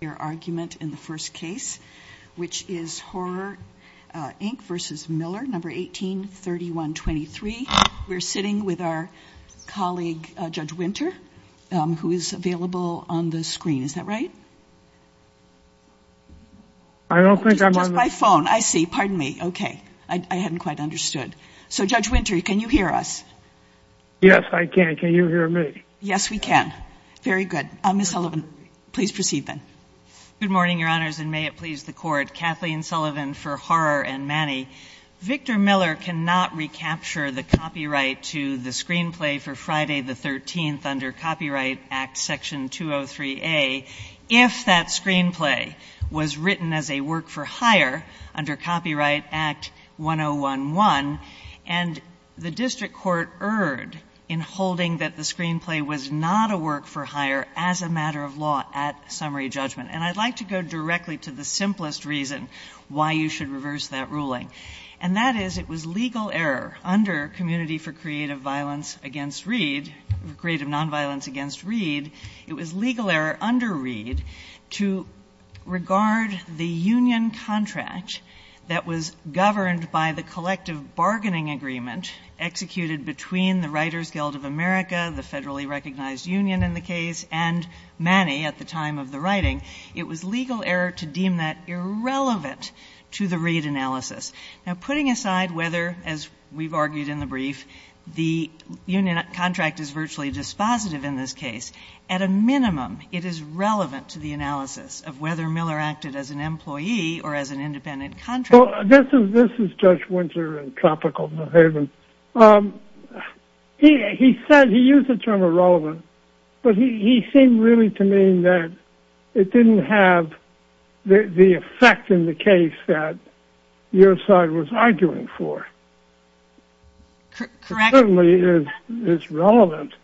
in the first case, which is Horror Inc. v. Miller, number 18-3123. We're sitting with our colleague, Judge Winter, who is available on the screen. Is that right? I don't think I'm on the – Just by phone. I see. Pardon me. Okay. I hadn't quite understood. So, Judge Winter, can you hear us? Yes, I can. Can you hear me? Yes, we can. Very good. Ms. Sullivan, please proceed, then. Good morning, Your Honors, and may it please the Court. Kathleen Sullivan for Horror and Manny. Victor Miller cannot recapture the copyright to the screenplay for Friday the 13th under Copyright Act Section 203A if that screenplay was written as a work-for-hire under Copyright Act 1011, and the district court erred in holding that the screenplay was not a work-for-hire as a matter of law at summary judgment. And I'd like to go directly to the simplest reason why you should reverse that ruling, and that is it was legal error under Community for Creative Violence Against Reed – Creative Nonviolence Against Reed. It was legal error under Reed to regard the union contract that was governed by the collective bargaining agreement executed between the Writers Guild of America, the federally recognized union in the case, and Manny at the time of the writing. It was legal error to deem that irrelevant to the Reed analysis. Now, putting aside whether, as we've argued in the brief, the union contract is virtually dispositive in this case, at a minimum it is relevant to the analysis of whether Miller acted as an employee or as an independent contractor. Well, this is Judge Winter in Tropical New Haven. He said he used the term irrelevant, but he seemed really to mean that it didn't have the effect in the case that your side was arguing for. Correct. It certainly is relevant,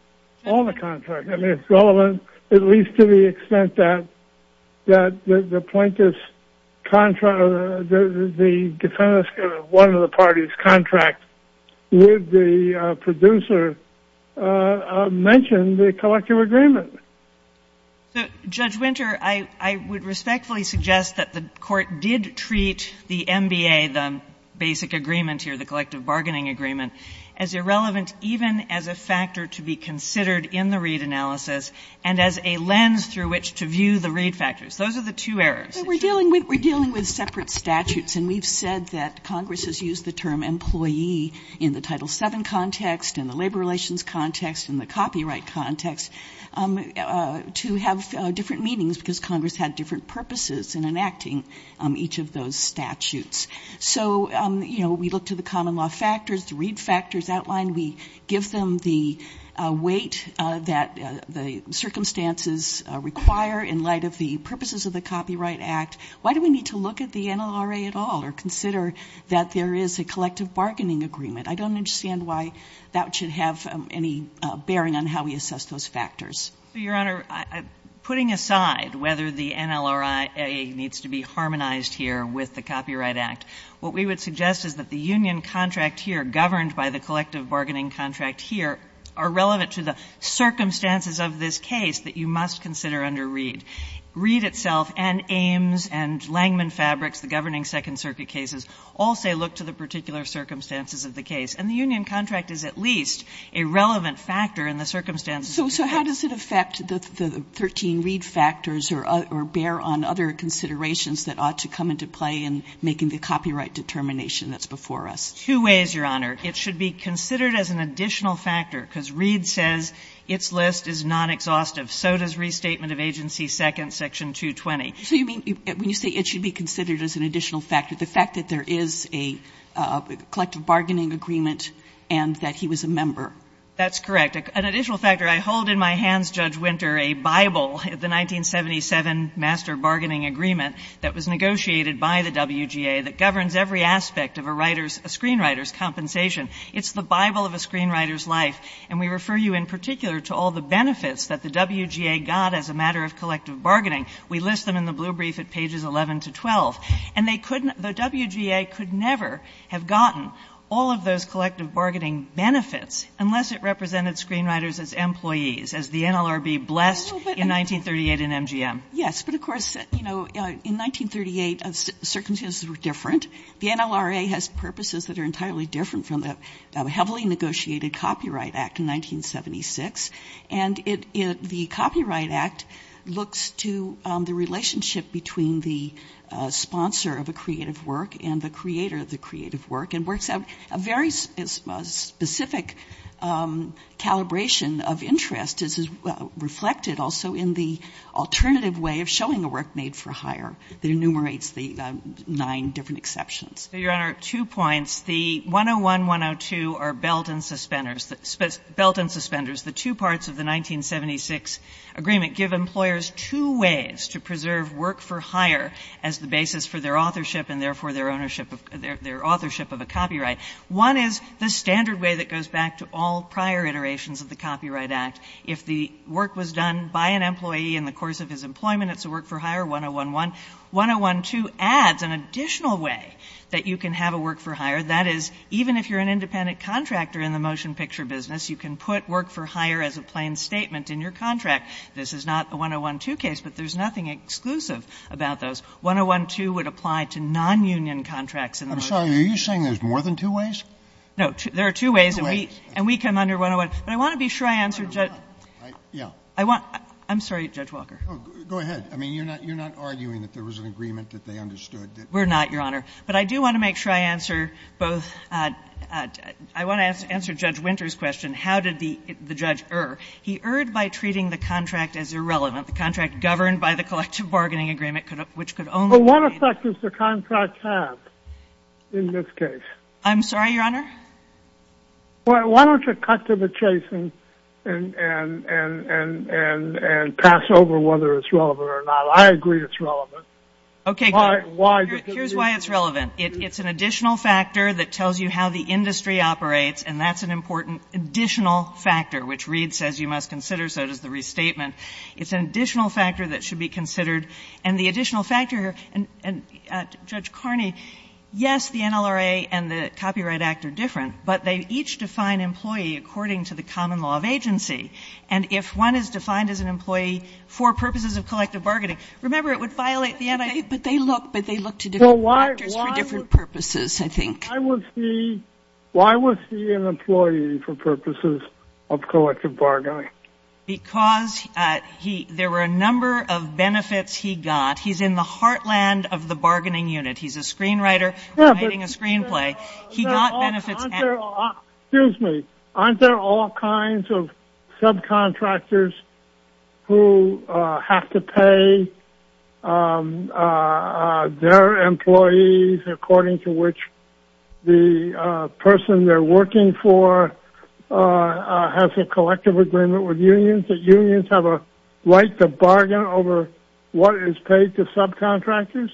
all the contracts. I mean, it's relevant at least to the extent that the plaintiff's contract or the defense of one of the parties' contract would the producer mention the collective agreement. Judge Winter, I would respectfully suggest that the Court did treat the MBA, the basic agreement here, the collective bargaining agreement, as irrelevant even as a factor to be considered in the Reed analysis and as a lens through which to view the Reed factors. Those are the two errors. We're dealing with separate statutes, and we've said that Congress has used the term employee in the Title VII context and the labor relations context and the copyright context to have different meanings because Congress had different purposes in enacting each of those statutes. So, you know, we looked at the common law factors, the Reed factors outlined. We give them the weight that the circumstances require in light of the purposes of the Copyright Act. Why do we need to look at the NLRA at all or consider that there is a collective bargaining agreement? I don't understand why that should have any bearing on how we assess those factors. Your Honor, putting aside whether the NLRA needs to be harmonized here with the Copyright Act, what we would suggest is that the union contract here governed by the collective bargaining contract here are relevant to the circumstances of this case that you must consider under Reed. Reed itself and Ames and Langman Fabrics, the governing Second Circuit cases, all say look to the particular circumstances of the case. And the union contract is at least a relevant factor in the circumstances of the case. Kagan. So how does it affect the 13 Reed factors or bear on other considerations that ought to come into play in making the copyright determination that's before us? Two ways, Your Honor. It should be considered as an additional factor because Reed says its list is non-exhaustive. So does restatement of agency second, section 220. So you mean when you say it should be considered as an additional factor, the fact that there is a collective bargaining agreement and that he was a member? That's correct. An additional factor, I hold in my hands, Judge Winter, a Bible, the 1977 master bargaining agreement that was negotiated by the WGA that governs every aspect of a writer's or screenwriter's compensation. It's the Bible of a screenwriter's life. And we refer you in particular to all the benefits that the WGA got as a matter of collective bargaining. We list them in the blue brief at pages 11 to 12. And they couldn't, the WGA could never have gotten all of those collective bargaining benefits unless it represented screenwriters as employees, as the NLRB blessed in 1938 in MGM. Yes, but of course, you know, in 1938 circumstances were different. The NLRA has purposes that are entirely different from the heavily negotiated Copyright Act in 1976. And the Copyright Act looks to the relationship between the sponsor of a creative work and the creator of the creative work and works out a very specific calibration of interest as is reflected also in the alternative way of showing a work made for hire that enumerates the nine different exceptions. So, Your Honor, two points. The 101, 102 are belt and suspenders. Belt and suspenders, the two parts of the 1976 agreement, give employers two ways to preserve work for hire as the basis for their authorship and therefore their ownership of their authorship of a copyright. One is the standard way that goes back to all prior iterations of the Copyright Act. If the work was done by an employee in the course of his employment, it's a work for hire, 101. 101, 102 adds an additional way that you can have a work for hire. That is, even if you're an independent contractor in the motion picture business, you can put work for hire as a plain statement in your contract. This is not a 101, 2 case, but there's nothing exclusive about those. 101, 2 would apply to nonunion contracts in the motion picture. Scalia. I'm sorry. Are you saying there's more than two ways? Kagan. No. There are two ways. And we come under 101. Scalia. Kagan. I'm sorry, Judge Walker. Scalia. Go ahead. I mean, you're not arguing that there was an agreement that they understood that? We're not, Your Honor. But I do want to make sure I answer both. I want to answer Judge Winter's question. How did the judge err? He erred by treating the contract as irrelevant. The contract governed by the collective bargaining agreement, which could only be made. Well, what effect does the contract have in this case? I'm sorry, Your Honor? Why don't you cut to the chase and pass over whether it's relevant or not. I agree it's relevant. Okay. Here's why it's relevant. It's an additional factor that tells you how the industry operates, and that's an important additional factor, which Reed says you must consider, so does the restatement. It's an additional factor that should be considered. And the additional factor, and Judge Carney, yes, the NLRA and the Copyright Act are different, but they each define employee according to the common law of agency. And if one is defined as an employee for purposes of collective bargaining, remember, it would violate the NLRA. But they look to different factors for different purposes, I think. Why was he an employee for purposes of collective bargaining? Because there were a number of benefits he got. He's in the heartland of the bargaining unit. He's a screenwriter writing a screenplay. He got benefits. Excuse me. Aren't there all kinds of subcontractors who have to pay their employees according to which the person they're working for has a collective agreement with unions, that unions have a right to bargain over what is paid to subcontractors?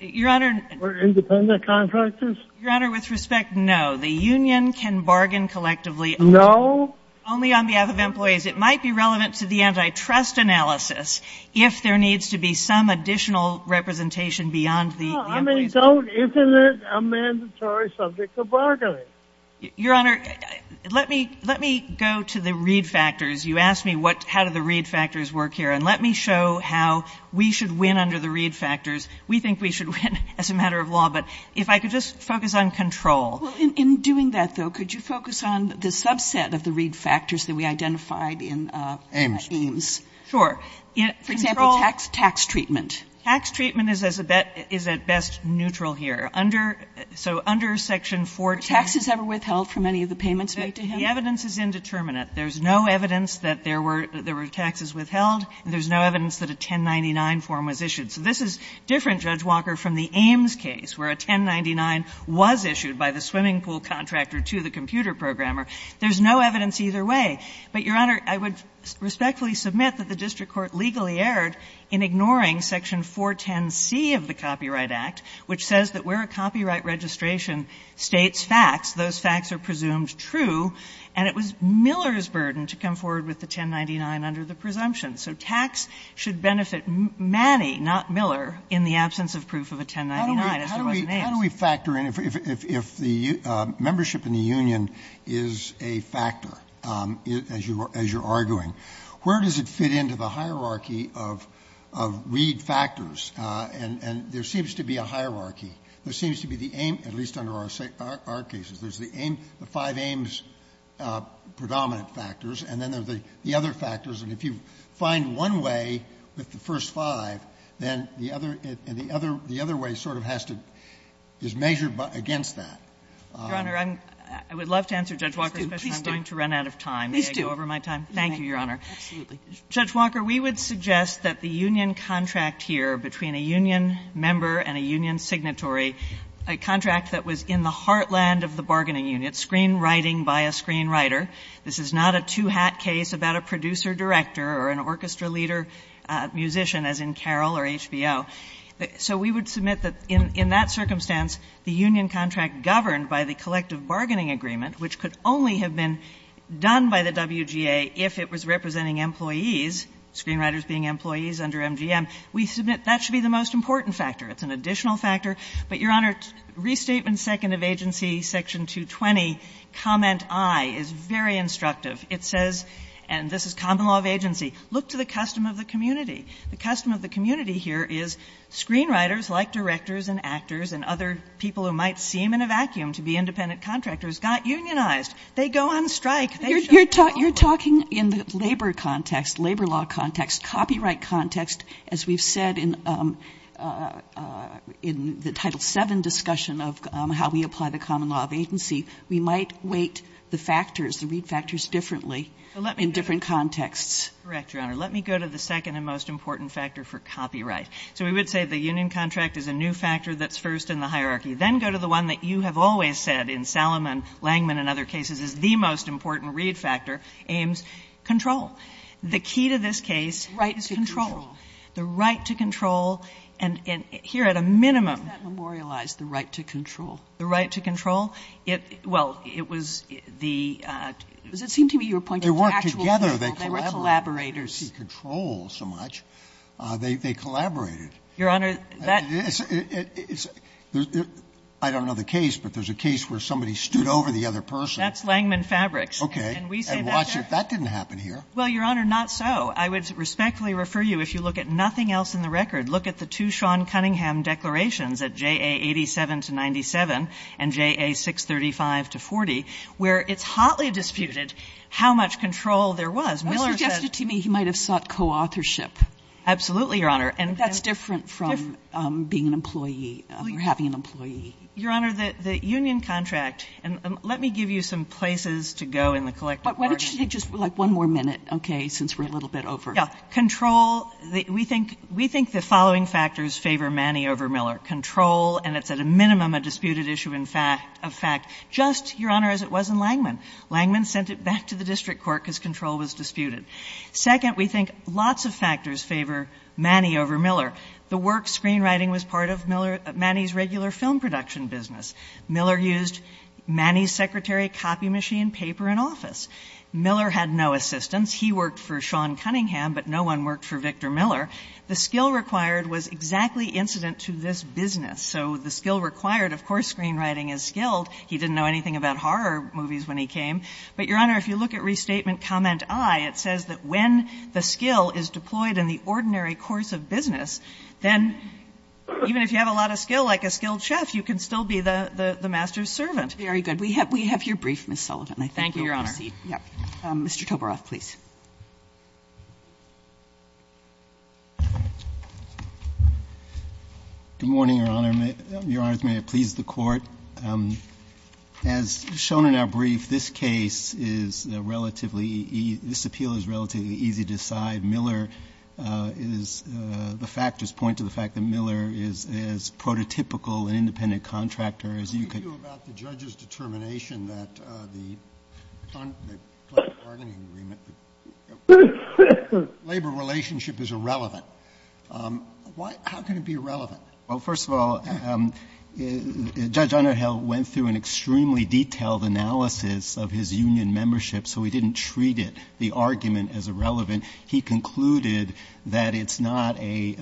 Your Honor. Or independent contractors? Your Honor, with respect, no. The union can bargain collectively. No? Only on behalf of employees. It might be relevant to the antitrust analysis if there needs to be some additional representation beyond the employees. Isn't it a mandatory subject of bargaining? Your Honor, let me go to the read factors. You asked me how do the read factors work here. And let me show how we should win under the read factors. We think we should win as a matter of law. But if I could just focus on control. Well, in doing that, though, could you focus on the subset of the read factors that we identified in Ames? Sure. For example, tax treatment. Tax treatment is at best neutral here. Under section 14. Were taxes ever withheld from any of the payments made to him? The evidence is indeterminate. There's no evidence that there were taxes withheld. There's no evidence that a 1099 form was issued. So this is different, Judge Walker, from the Ames case where a 1099 was issued by the swimming pool contractor to the computer programmer. There's no evidence either way. But, Your Honor, I would respectfully submit that the district court legally erred in ignoring section 410C of the Copyright Act, which says that where a copyright registration states facts, those facts are presumed true, and it was Miller's burden to come forward with the 1099 under the presumption. So tax should benefit Manny, not Miller, in the absence of proof of a 1099, as it was in Ames. How do we factor in if the membership in the union is a factor, as you're arguing? Where does it fit into the hierarchy of read factors? And there seems to be a hierarchy. There seems to be the Ames, at least under our cases, there's the Ames, the five Ames predominant factors, and then there's the other factors. And if you find one way with the first five, then the other way sort of has to be measured against that. Your Honor, I would love to answer Judge Walker's question. I'm going to run out of time. May I go over my time? Thank you, Your Honor. Judge Walker, we would suggest that the union contract here between a union member and a union signatory, a contract that was in the heartland of the bargaining unit, screenwriting by a screenwriter. This is not a two-hat case about a producer-director or an orchestra-leader musician, as in Carroll or HBO. So we would submit that in that circumstance, the union contract governed by the collective bargaining agreement, which could only have been done by the WGA if it was representing employees, screenwriters being employees under MGM, we submit that should be the most important factor. It's an additional factor. But, Your Honor, Restatement Second of Agency, Section 220, Comment I, is very instructive. It says, and this is common law of agency, look to the custom of the community. The custom of the community here is screenwriters, like directors and actors and other people who might seem in a vacuum to be independent contractors, got unionized. They go on strike. They show up. Kagan. You're talking in the labor context, labor law context, copyright context, as we've seen in the Title VII discussion of how we apply the common law of agency, we might weight the factors, the read factors, differently in different contexts. Correct, Your Honor. Let me go to the second and most important factor for copyright. So we would say the union contract is a new factor that's first in the hierarchy. Then go to the one that you have always said in Salomon, Langman, and other cases is the most important read factor, Ames, control. The key to this case is control. The right to control. And here at a minimum. How is that memorialized, the right to control? The right to control? Well, it was the... It seemed to me you were pointing to actual people. They worked together. They collaborated. They were collaborators. They didn't see control so much. They collaborated. Your Honor, that... I don't know the case, but there's a case where somebody stood over the other person. That's Langman Fabrics. Okay. And watch it. That didn't happen here. Well, Your Honor, not so. I would respectfully refer you, if you look at nothing else in the record, look at the two Sean Cunningham declarations at JA87-97 and JA635-40, where it's hotly disputed how much control there was. Miller said... That's suggested to me he might have sought co-authorship. Absolutely, Your Honor. And... That's different from being an employee or having an employee. Your Honor, the union contract. And let me give you some places to go in the collective argument. Why don't you take just one more minute, okay, since we're a little bit over. Yeah. Control... We think the following factors favor Manny over Miller. Control... And it's at a minimum a disputed issue of fact. Just, Your Honor, as it was in Langman. Langman sent it back to the district court because control was disputed. Second, we think lots of factors favor Manny over Miller. The work screenwriting was part of Manny's regular film production business. Miller used Manny's secretary, copy machine, paper, and office. Miller had no assistants. He worked for Sean Cunningham, but no one worked for Victor Miller. The skill required was exactly incident to this business. So the skill required, of course screenwriting is skilled. He didn't know anything about horror movies when he came. But, Your Honor, if you look at Restatement Comment I, it says that when the skill is deployed in the ordinary course of business, then even if you have a lot of skill like a skilled chef, you can still be the master's servant. Very good. We have your brief, Ms. Sullivan. Thank you, Your Honor. Mr. Tobaroff, please. Good morning, Your Honor. Your Honors, may it please the Court. As shown in our brief, this case is relatively easy to decide. Miller is, the factors point to the fact that Miller is as prototypical an independent contractor as you could. What do you do about the judge's determination that the bargaining agreement labor relationship is irrelevant? How can it be irrelevant? Well, first of all, Judge Onerhel went through an extremely detailed analysis of his union membership, so he didn't treat it, the argument, as irrelevant. He concluded that it's not a,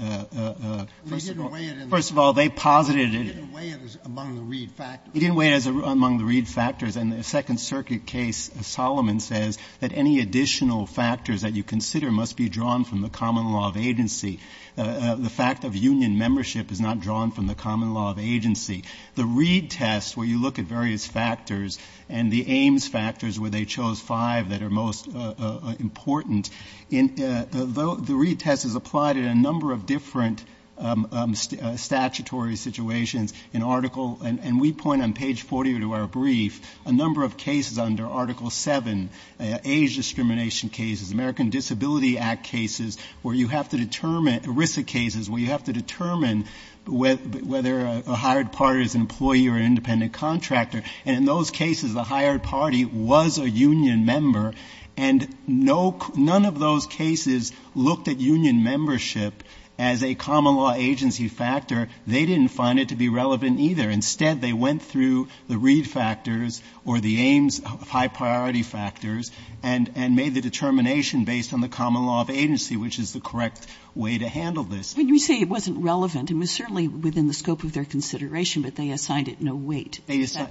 first of all, they posited it. He didn't weigh it as among the Reed factors. He didn't weigh it as among the Reed factors. In the Second Circuit case, Solomon says that any additional factors that you consider must be drawn from the common law of agency. The fact of union membership is not drawn from the common law of agency. The Reed test, where you look at various factors, and the Ames factors, where they chose five that are most important. The Reed test is applied in a number of different statutory situations. In Article, and we point on page 40 of our brief, a number of cases under Article 7, age discrimination cases, American Disability Act cases, where you have to determine, ERISA cases, where you have to determine whether a hired party is an employee or an independent contractor. And in those cases, the hired party was a union member, and no, none of those cases looked at union membership as a common law agency factor. They didn't find it to be relevant either. Instead, they went through the Reed factors or the Ames high-priority factors and made the determination based on the common law of agency, which is the correct way to handle this. And you say it wasn't relevant. It was certainly within the scope of their consideration, but they assigned it no weight.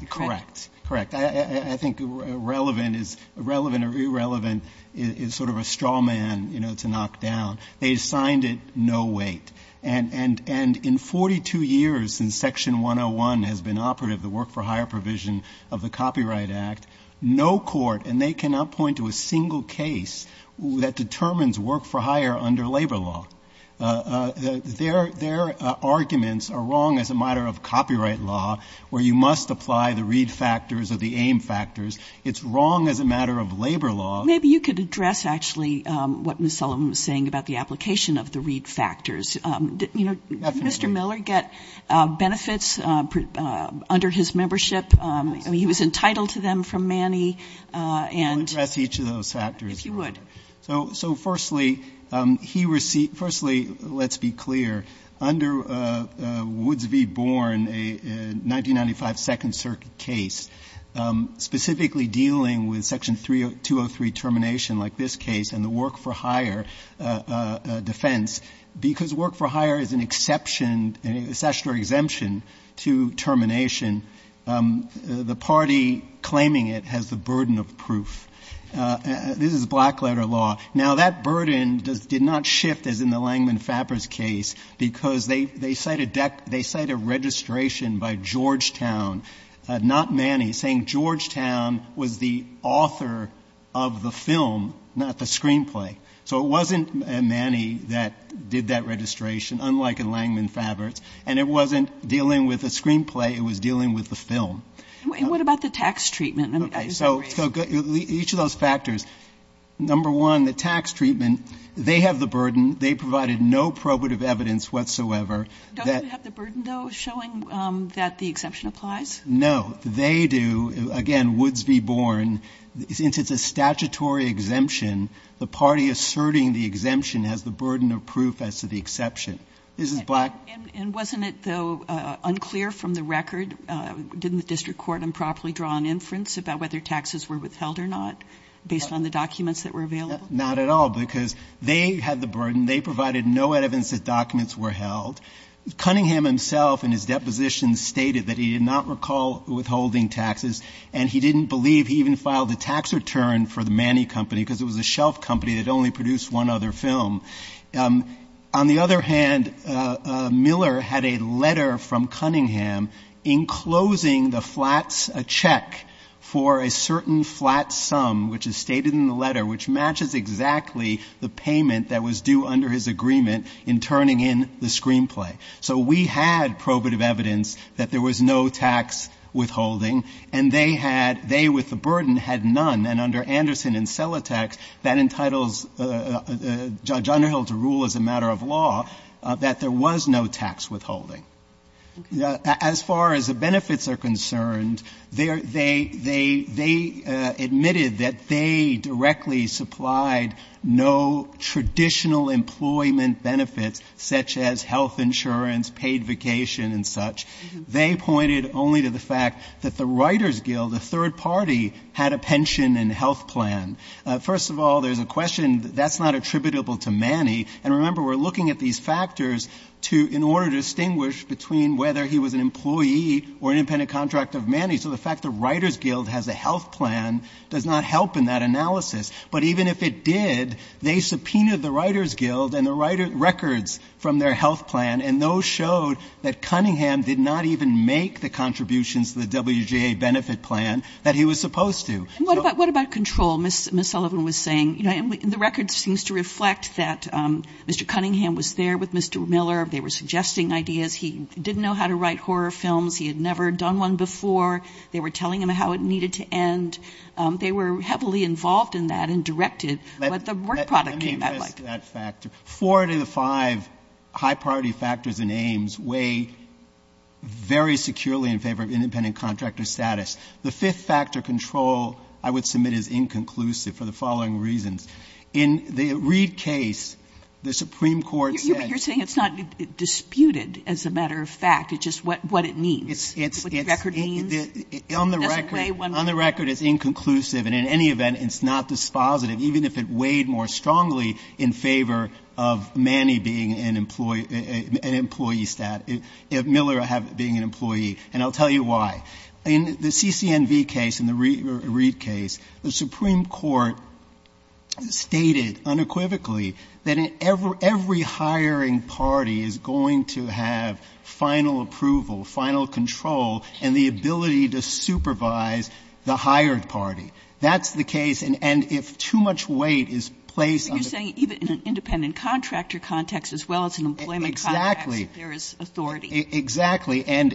Correct. Correct. I think relevant or irrelevant is sort of a straw man, you know, to knock down. They assigned it no weight. And in 42 years since Section 101 has been operative, the work-for-hire provision of the Copyright Act, no court, and they cannot point to a single case that determines work-for-hire under labor law. Their arguments are wrong as a matter of copyright law, where you must apply the Reed factors or the Ames factors. It's wrong as a matter of labor law. Maybe you could address, actually, what Ms. Sullivan was saying about the application of the Reed factors. Definitely. Did Mr. Miller get benefits under his membership? He was entitled to them from Manny. I would address each of those factors. If you would. All right. So, firstly, he received ‑‑ firstly, let's be clear. Under Woods v. Born, a 1995 Second Circuit case, specifically dealing with Section 203 termination like this case and the work-for-hire defense, because work-for-hire is an exception, a statutory exemption to termination, the party claiming it has the burden of proof. This is black letter law. Now, that burden did not shift, as in the Langman Faber's case, because they cite a registration by Georgetown, not Manny, saying Georgetown was the author of the film, not the screenplay. So it wasn't Manny that did that registration, unlike in Langman Faber's, and it wasn't dealing with the screenplay. It was dealing with the film. And what about the tax treatment? Okay. So each of those factors. Number one, the tax treatment, they have the burden. They provided no probative evidence whatsoever. Don't you have the burden, though, showing that the exemption applies? No. They do. Again, Woods v. Born, since it's a statutory exemption, the party asserting the exemption has the burden of proof as to the exception. This is black. And wasn't it, though, unclear from the record? Didn't the district court improperly draw an inference about whether taxes were withheld or not based on the documents that were available? Not at all, because they had the burden. They provided no evidence that documents were held. Cunningham himself in his deposition stated that he did not recall withholding taxes, and he didn't believe he even filed a tax return for the Manny company because it was a shelf company that only produced one other film. On the other hand, Miller had a letter from Cunningham enclosing the flats, a check for a certain flat sum, which is stated in the letter, which matches exactly the payment that was due under his agreement in turning in the screenplay. So we had probative evidence that there was no tax withholding, and they had they with the burden had none. And under Anderson and Celotex, that entitles Judge Underhill to rule as a matter of law that there was no tax withholding. As far as the benefits are concerned, they admitted that they directly supplied no traditional employment benefits such as health insurance, paid vacation, and such. They pointed only to the fact that the Writers Guild, a third party, had a pension and health plan. First of all, there's a question, that's not attributable to Manny. And remember, we're looking at these factors to, in order to distinguish between whether he was an employee or an independent contract of Manny. So the fact the Writers Guild has a health plan does not help in that analysis. But even if it did, they subpoenaed the Writers Guild and the records from their health plan, and those showed that Cunningham did not even make the contributions to the WJA benefit plan that he was supposed to. And what about control? Ms. Sullivan was saying, you know, and the record seems to reflect that Mr. Cunningham was there with Mr. Miller. They were suggesting ideas. He didn't know how to write horror films. He had never done one before. They were telling him how it needed to end. They were heavily involved in that and directed what the work product came out like. Let me address that factor. Four out of the five high priority factors in Ames weigh very securely in favor of independent contractor status. The fifth factor, control, I would submit is inconclusive for the following reasons. In the Reid case, the Supreme Court said ---- Sotomayor, you're saying it's not disputed as a matter of fact. It's just what it means, what the record means. It doesn't weigh one way or the other. On the record, it's inconclusive. And in any event, it's not dispositive, even if it weighed more strongly in favor of Manny being an employee, an employee status, Miller being an employee. And I'll tell you why. In the CCNV case, in the Reid case, the Supreme Court stated unequivocally that every hiring party is going to have final approval, final control, and the ability to supervise the hired party. That's the case. And if too much weight is placed on the---- Kagan. But you're saying in an independent contractor context as well as an employment context---- ----there is authority. Exactly. And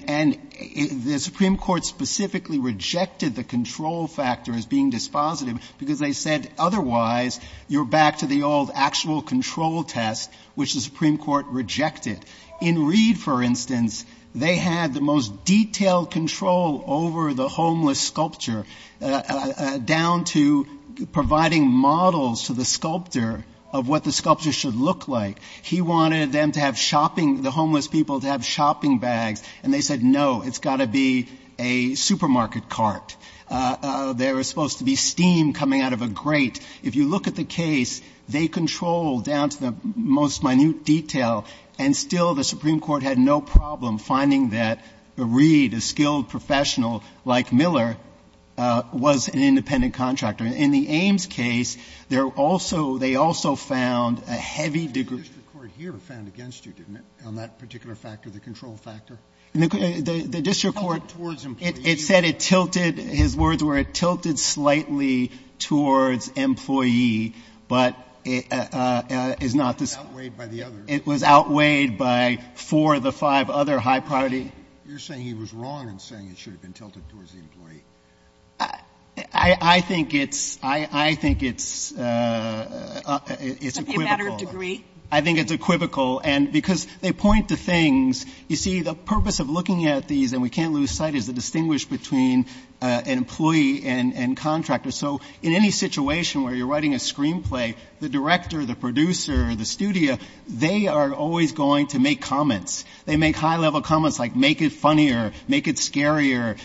the Supreme Court specifically rejected the control factor as being dispositive because they said otherwise, you're back to the old actual control test, which the Supreme Court rejected. In Reid, for instance, they had the most detailed control over the homeless sculpture down to providing models to the sculptor of what the sculpture should look like. He wanted them to have shopping, the homeless people to have shopping bags, and they said no, it's got to be a supermarket cart. There was supposed to be steam coming out of a grate. If you look at the case, they controlled down to the most minute detail, and still the Supreme Court had no problem finding that Reid, a skilled professional like Miller, was an independent contractor. In the Ames case, there also they also found a heavy degree---- The district court here found against you, didn't it, on that particular factor, the control factor? The district court---- Tilted towards employee. It said it tilted. His words were it tilted slightly towards employee, but is not the---- It was outweighed by the others. It was outweighed by four of the five other high priority---- You're saying he was wrong in saying it should have been tilted towards the employee. I think it's equivocal. It's a matter of degree. I think it's equivocal, and because they point to things. You see, the purpose of looking at these, and we can't lose sight, is to distinguish between an employee and contractor. So in any situation where you're writing a screenplay, the director, the producer, the studio, they are always going to make comments. They make high-level comments like make it funnier, make it scarier.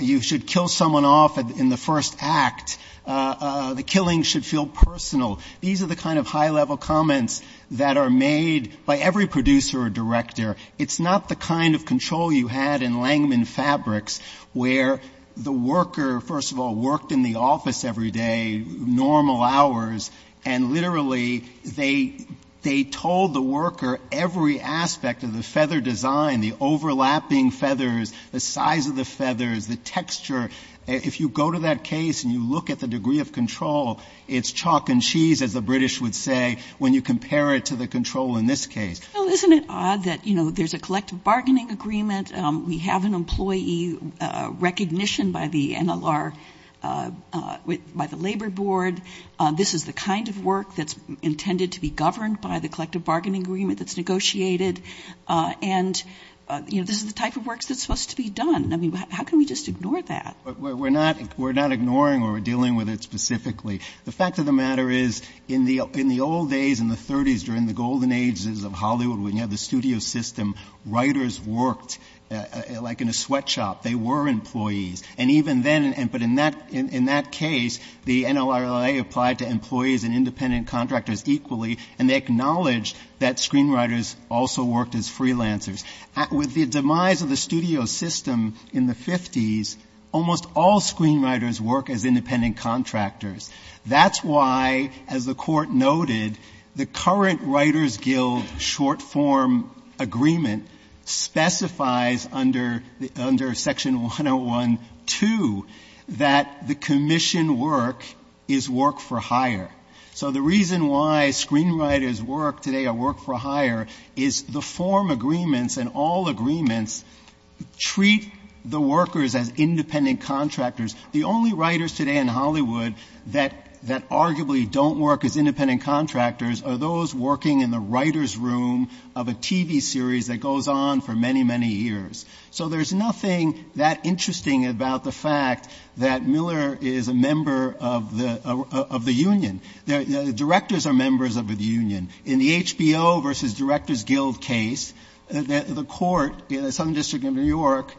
You should kill someone off in the first act. The killing should feel personal. These are the kind of high-level comments that are made by every producer or director. It's not the kind of control you had in Langman Fabrics where the worker, first of all, worked in the office every day, normal hours, and literally they told the texture. If you go to that case and you look at the degree of control, it's chalk and cheese, as the British would say, when you compare it to the control in this case. Well, isn't it odd that there's a collective bargaining agreement, we have an employee recognition by the NLR, by the Labor Board, this is the kind of work that's intended to be governed by the collective bargaining agreement that's negotiated, and this is the type of work that's supposed to be done. I mean, how can we just ignore that? We're not ignoring or dealing with it specifically. The fact of the matter is in the old days, in the 30s, during the golden ages of Hollywood when you had the studio system, writers worked like in a sweatshop. They were employees. And even then, but in that case, the NLRI applied to employees and independent contractors equally, and they acknowledged that screenwriters also worked as freelancers. With the demise of the studio system in the 50s, almost all screenwriters work as independent contractors. That's why, as the Court noted, the current Writers Guild short-form agreement specifies under Section 101.2 that the commission work is work for hire. So the reason why screenwriters work today or work for hire is the form agreements and all agreements treat the workers as independent contractors. The only writers today in Hollywood that arguably don't work as independent contractors are those who have lived on for many, many years. So there's nothing that interesting about the fact that Miller is a member of the union. Directors are members of the union. In the HBO versus Directors Guild case, the Court in the Southern District of New York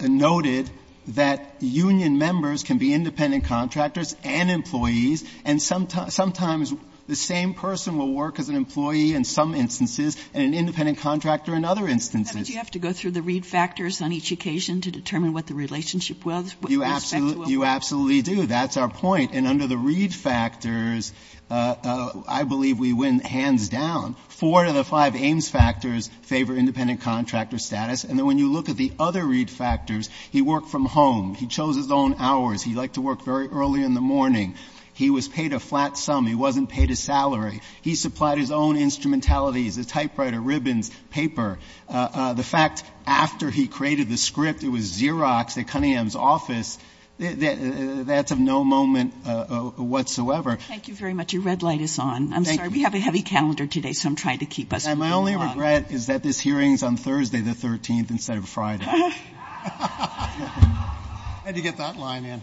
noted that union members can be independent contractors and employees, and sometimes the same person will work as an employee in some instances and an independent contractor in other instances. Kagan. How did you have to go through the Reed factors on each occasion to determine what the relationship was with respect to a worker? You absolutely do. That's our point. And under the Reed factors, I believe we win hands down. Four out of the five Ames factors favor independent contractor status. And then when you look at the other Reed factors, he worked from home. He chose his own hours. He liked to work very early in the morning. He was paid a flat sum. He wasn't paid a salary. He supplied his own instrumentalities, a typewriter, ribbons, paper. The fact after he created the script, it was Xerox at Cunningham's office, that's of no moment whatsoever. Thank you very much. Your red light is on. I'm sorry. We have a heavy calendar today, so I'm trying to keep us on the log. And my only regret is that this hearing is on Thursday the 13th instead of Friday. I had to get that line in.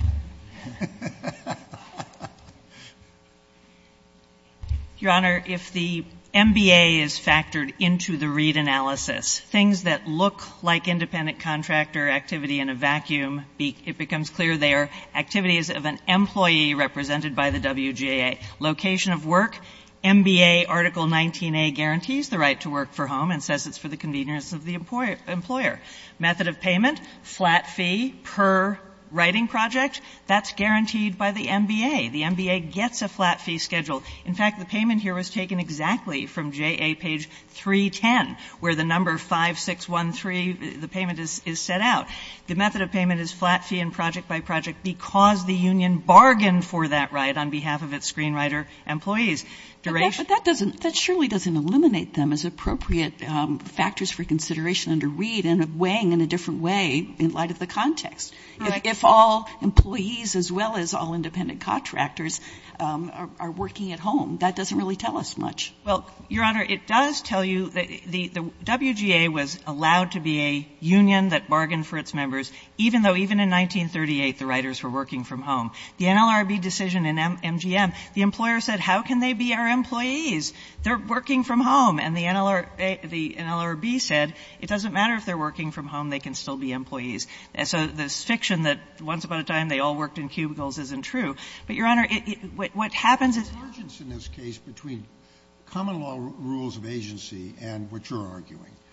Your Honor, if the MBA is factored into the Reed analysis, things that look like independent contractor activity in a vacuum, it becomes clear they are activities of an employee represented by the WJA. Location of work, MBA Article 19A guarantees the right to work from home and says it's for the convenience of the employer. Method of payment, flat fee per writing project, that's guaranteed by the MBA. The MBA gets a flat fee schedule. In fact, the payment here was taken exactly from J.A. page 310, where the number 5613, the payment is set out. The method of payment is flat fee and project by project because the union bargained for that right on behalf of its screenwriter employees. But that doesn't, that surely doesn't eliminate them as appropriate factors for consideration under Reed and weighing in a different way in light of the context. If all employees as well as all independent contractors are working at home, that doesn't really tell us much. Well, Your Honor, it does tell you that the WGA was allowed to be a union that bargained for its members, even though even in 1938 the writers were working from home. The NLRB decision in MGM, the employer said how can they be our employees? They're working from home. And the NLRB said it doesn't matter if they're working from home, they can still be employees. So this fiction that once upon a time they all worked in cubicles isn't true. But Your Honor, what happens is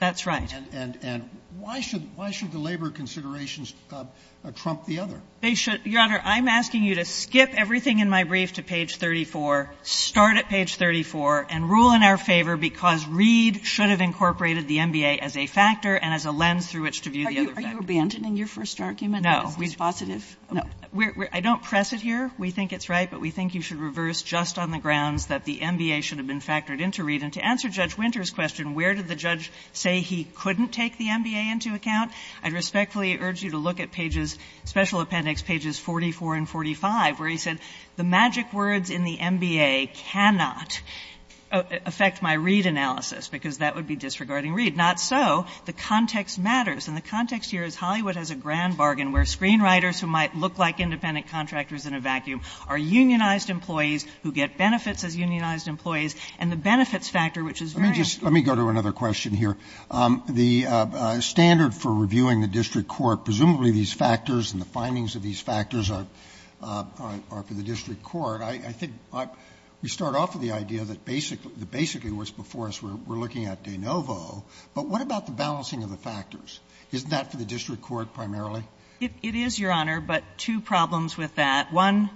that's right. And why should the labor considerations trump the other? Your Honor, I'm asking you to skip everything in my brief to page 34, start at page 34, and rule in our favor because Reed should have incorporated the MBA as a factor and as a lens through which to view the other factors. Are you abandoning your first argument? No. Is this positive? No. I don't press it here. We think it's right, but we think you should reverse just on the grounds that the MBA should have been factored into Reed. And to answer Judge Winter's question, where did the judge say he couldn't take the MBA into account, I respectfully urge you to look at pages, special appendix pages 44 and 45, where he said the magic words in the MBA cannot affect my Reed analysis because that would be disregarding Reed. Not so. The context matters. And the context here is Hollywood has a grand bargain where screenwriters who might look like independent contractors in a vacuum are unionized employees who get benefits as unionized employees. And the benefits factor, which is very important. Let me go to another question here. The standard for reviewing the district court, presumably these factors and the findings of these factors are for the district court. I think we start off with the idea that basically what's before us, we're looking at de novo, but what about the balancing of the factors? Isn't that for the district court primarily? It is, Your Honor, but two problems with that. One,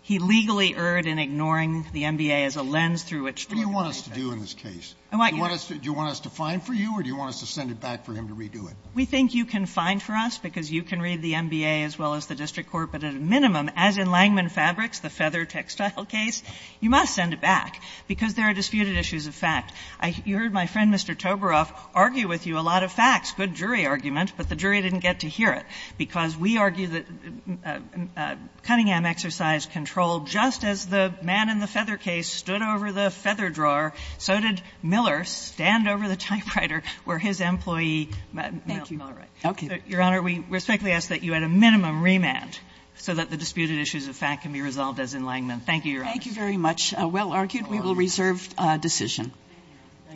he legally erred in ignoring the MBA as a lens through which to look at everything. What do you want us to do in this case? Do you want us to find for you or do you want us to send it back for him to redo We think you can find for us because you can read the MBA as well as the district court, but at a minimum, as in Langman Fabrics, the feather textile case, you must send it back because there are disputed issues of fact. You heard my friend, Mr. Toberoff, argue with you a lot of facts, good jury argument, but the jury didn't get to hear it because we argue that Cunningham exercised control just as the man in the feather case stood over the feather drawer, so did Thank you. Okay. Your Honor, we respectfully ask that you add a minimum remand so that the disputed issues of fact can be resolved as in Langman. Thank you, Your Honor. Thank you very much. Well argued. We will reserve decision.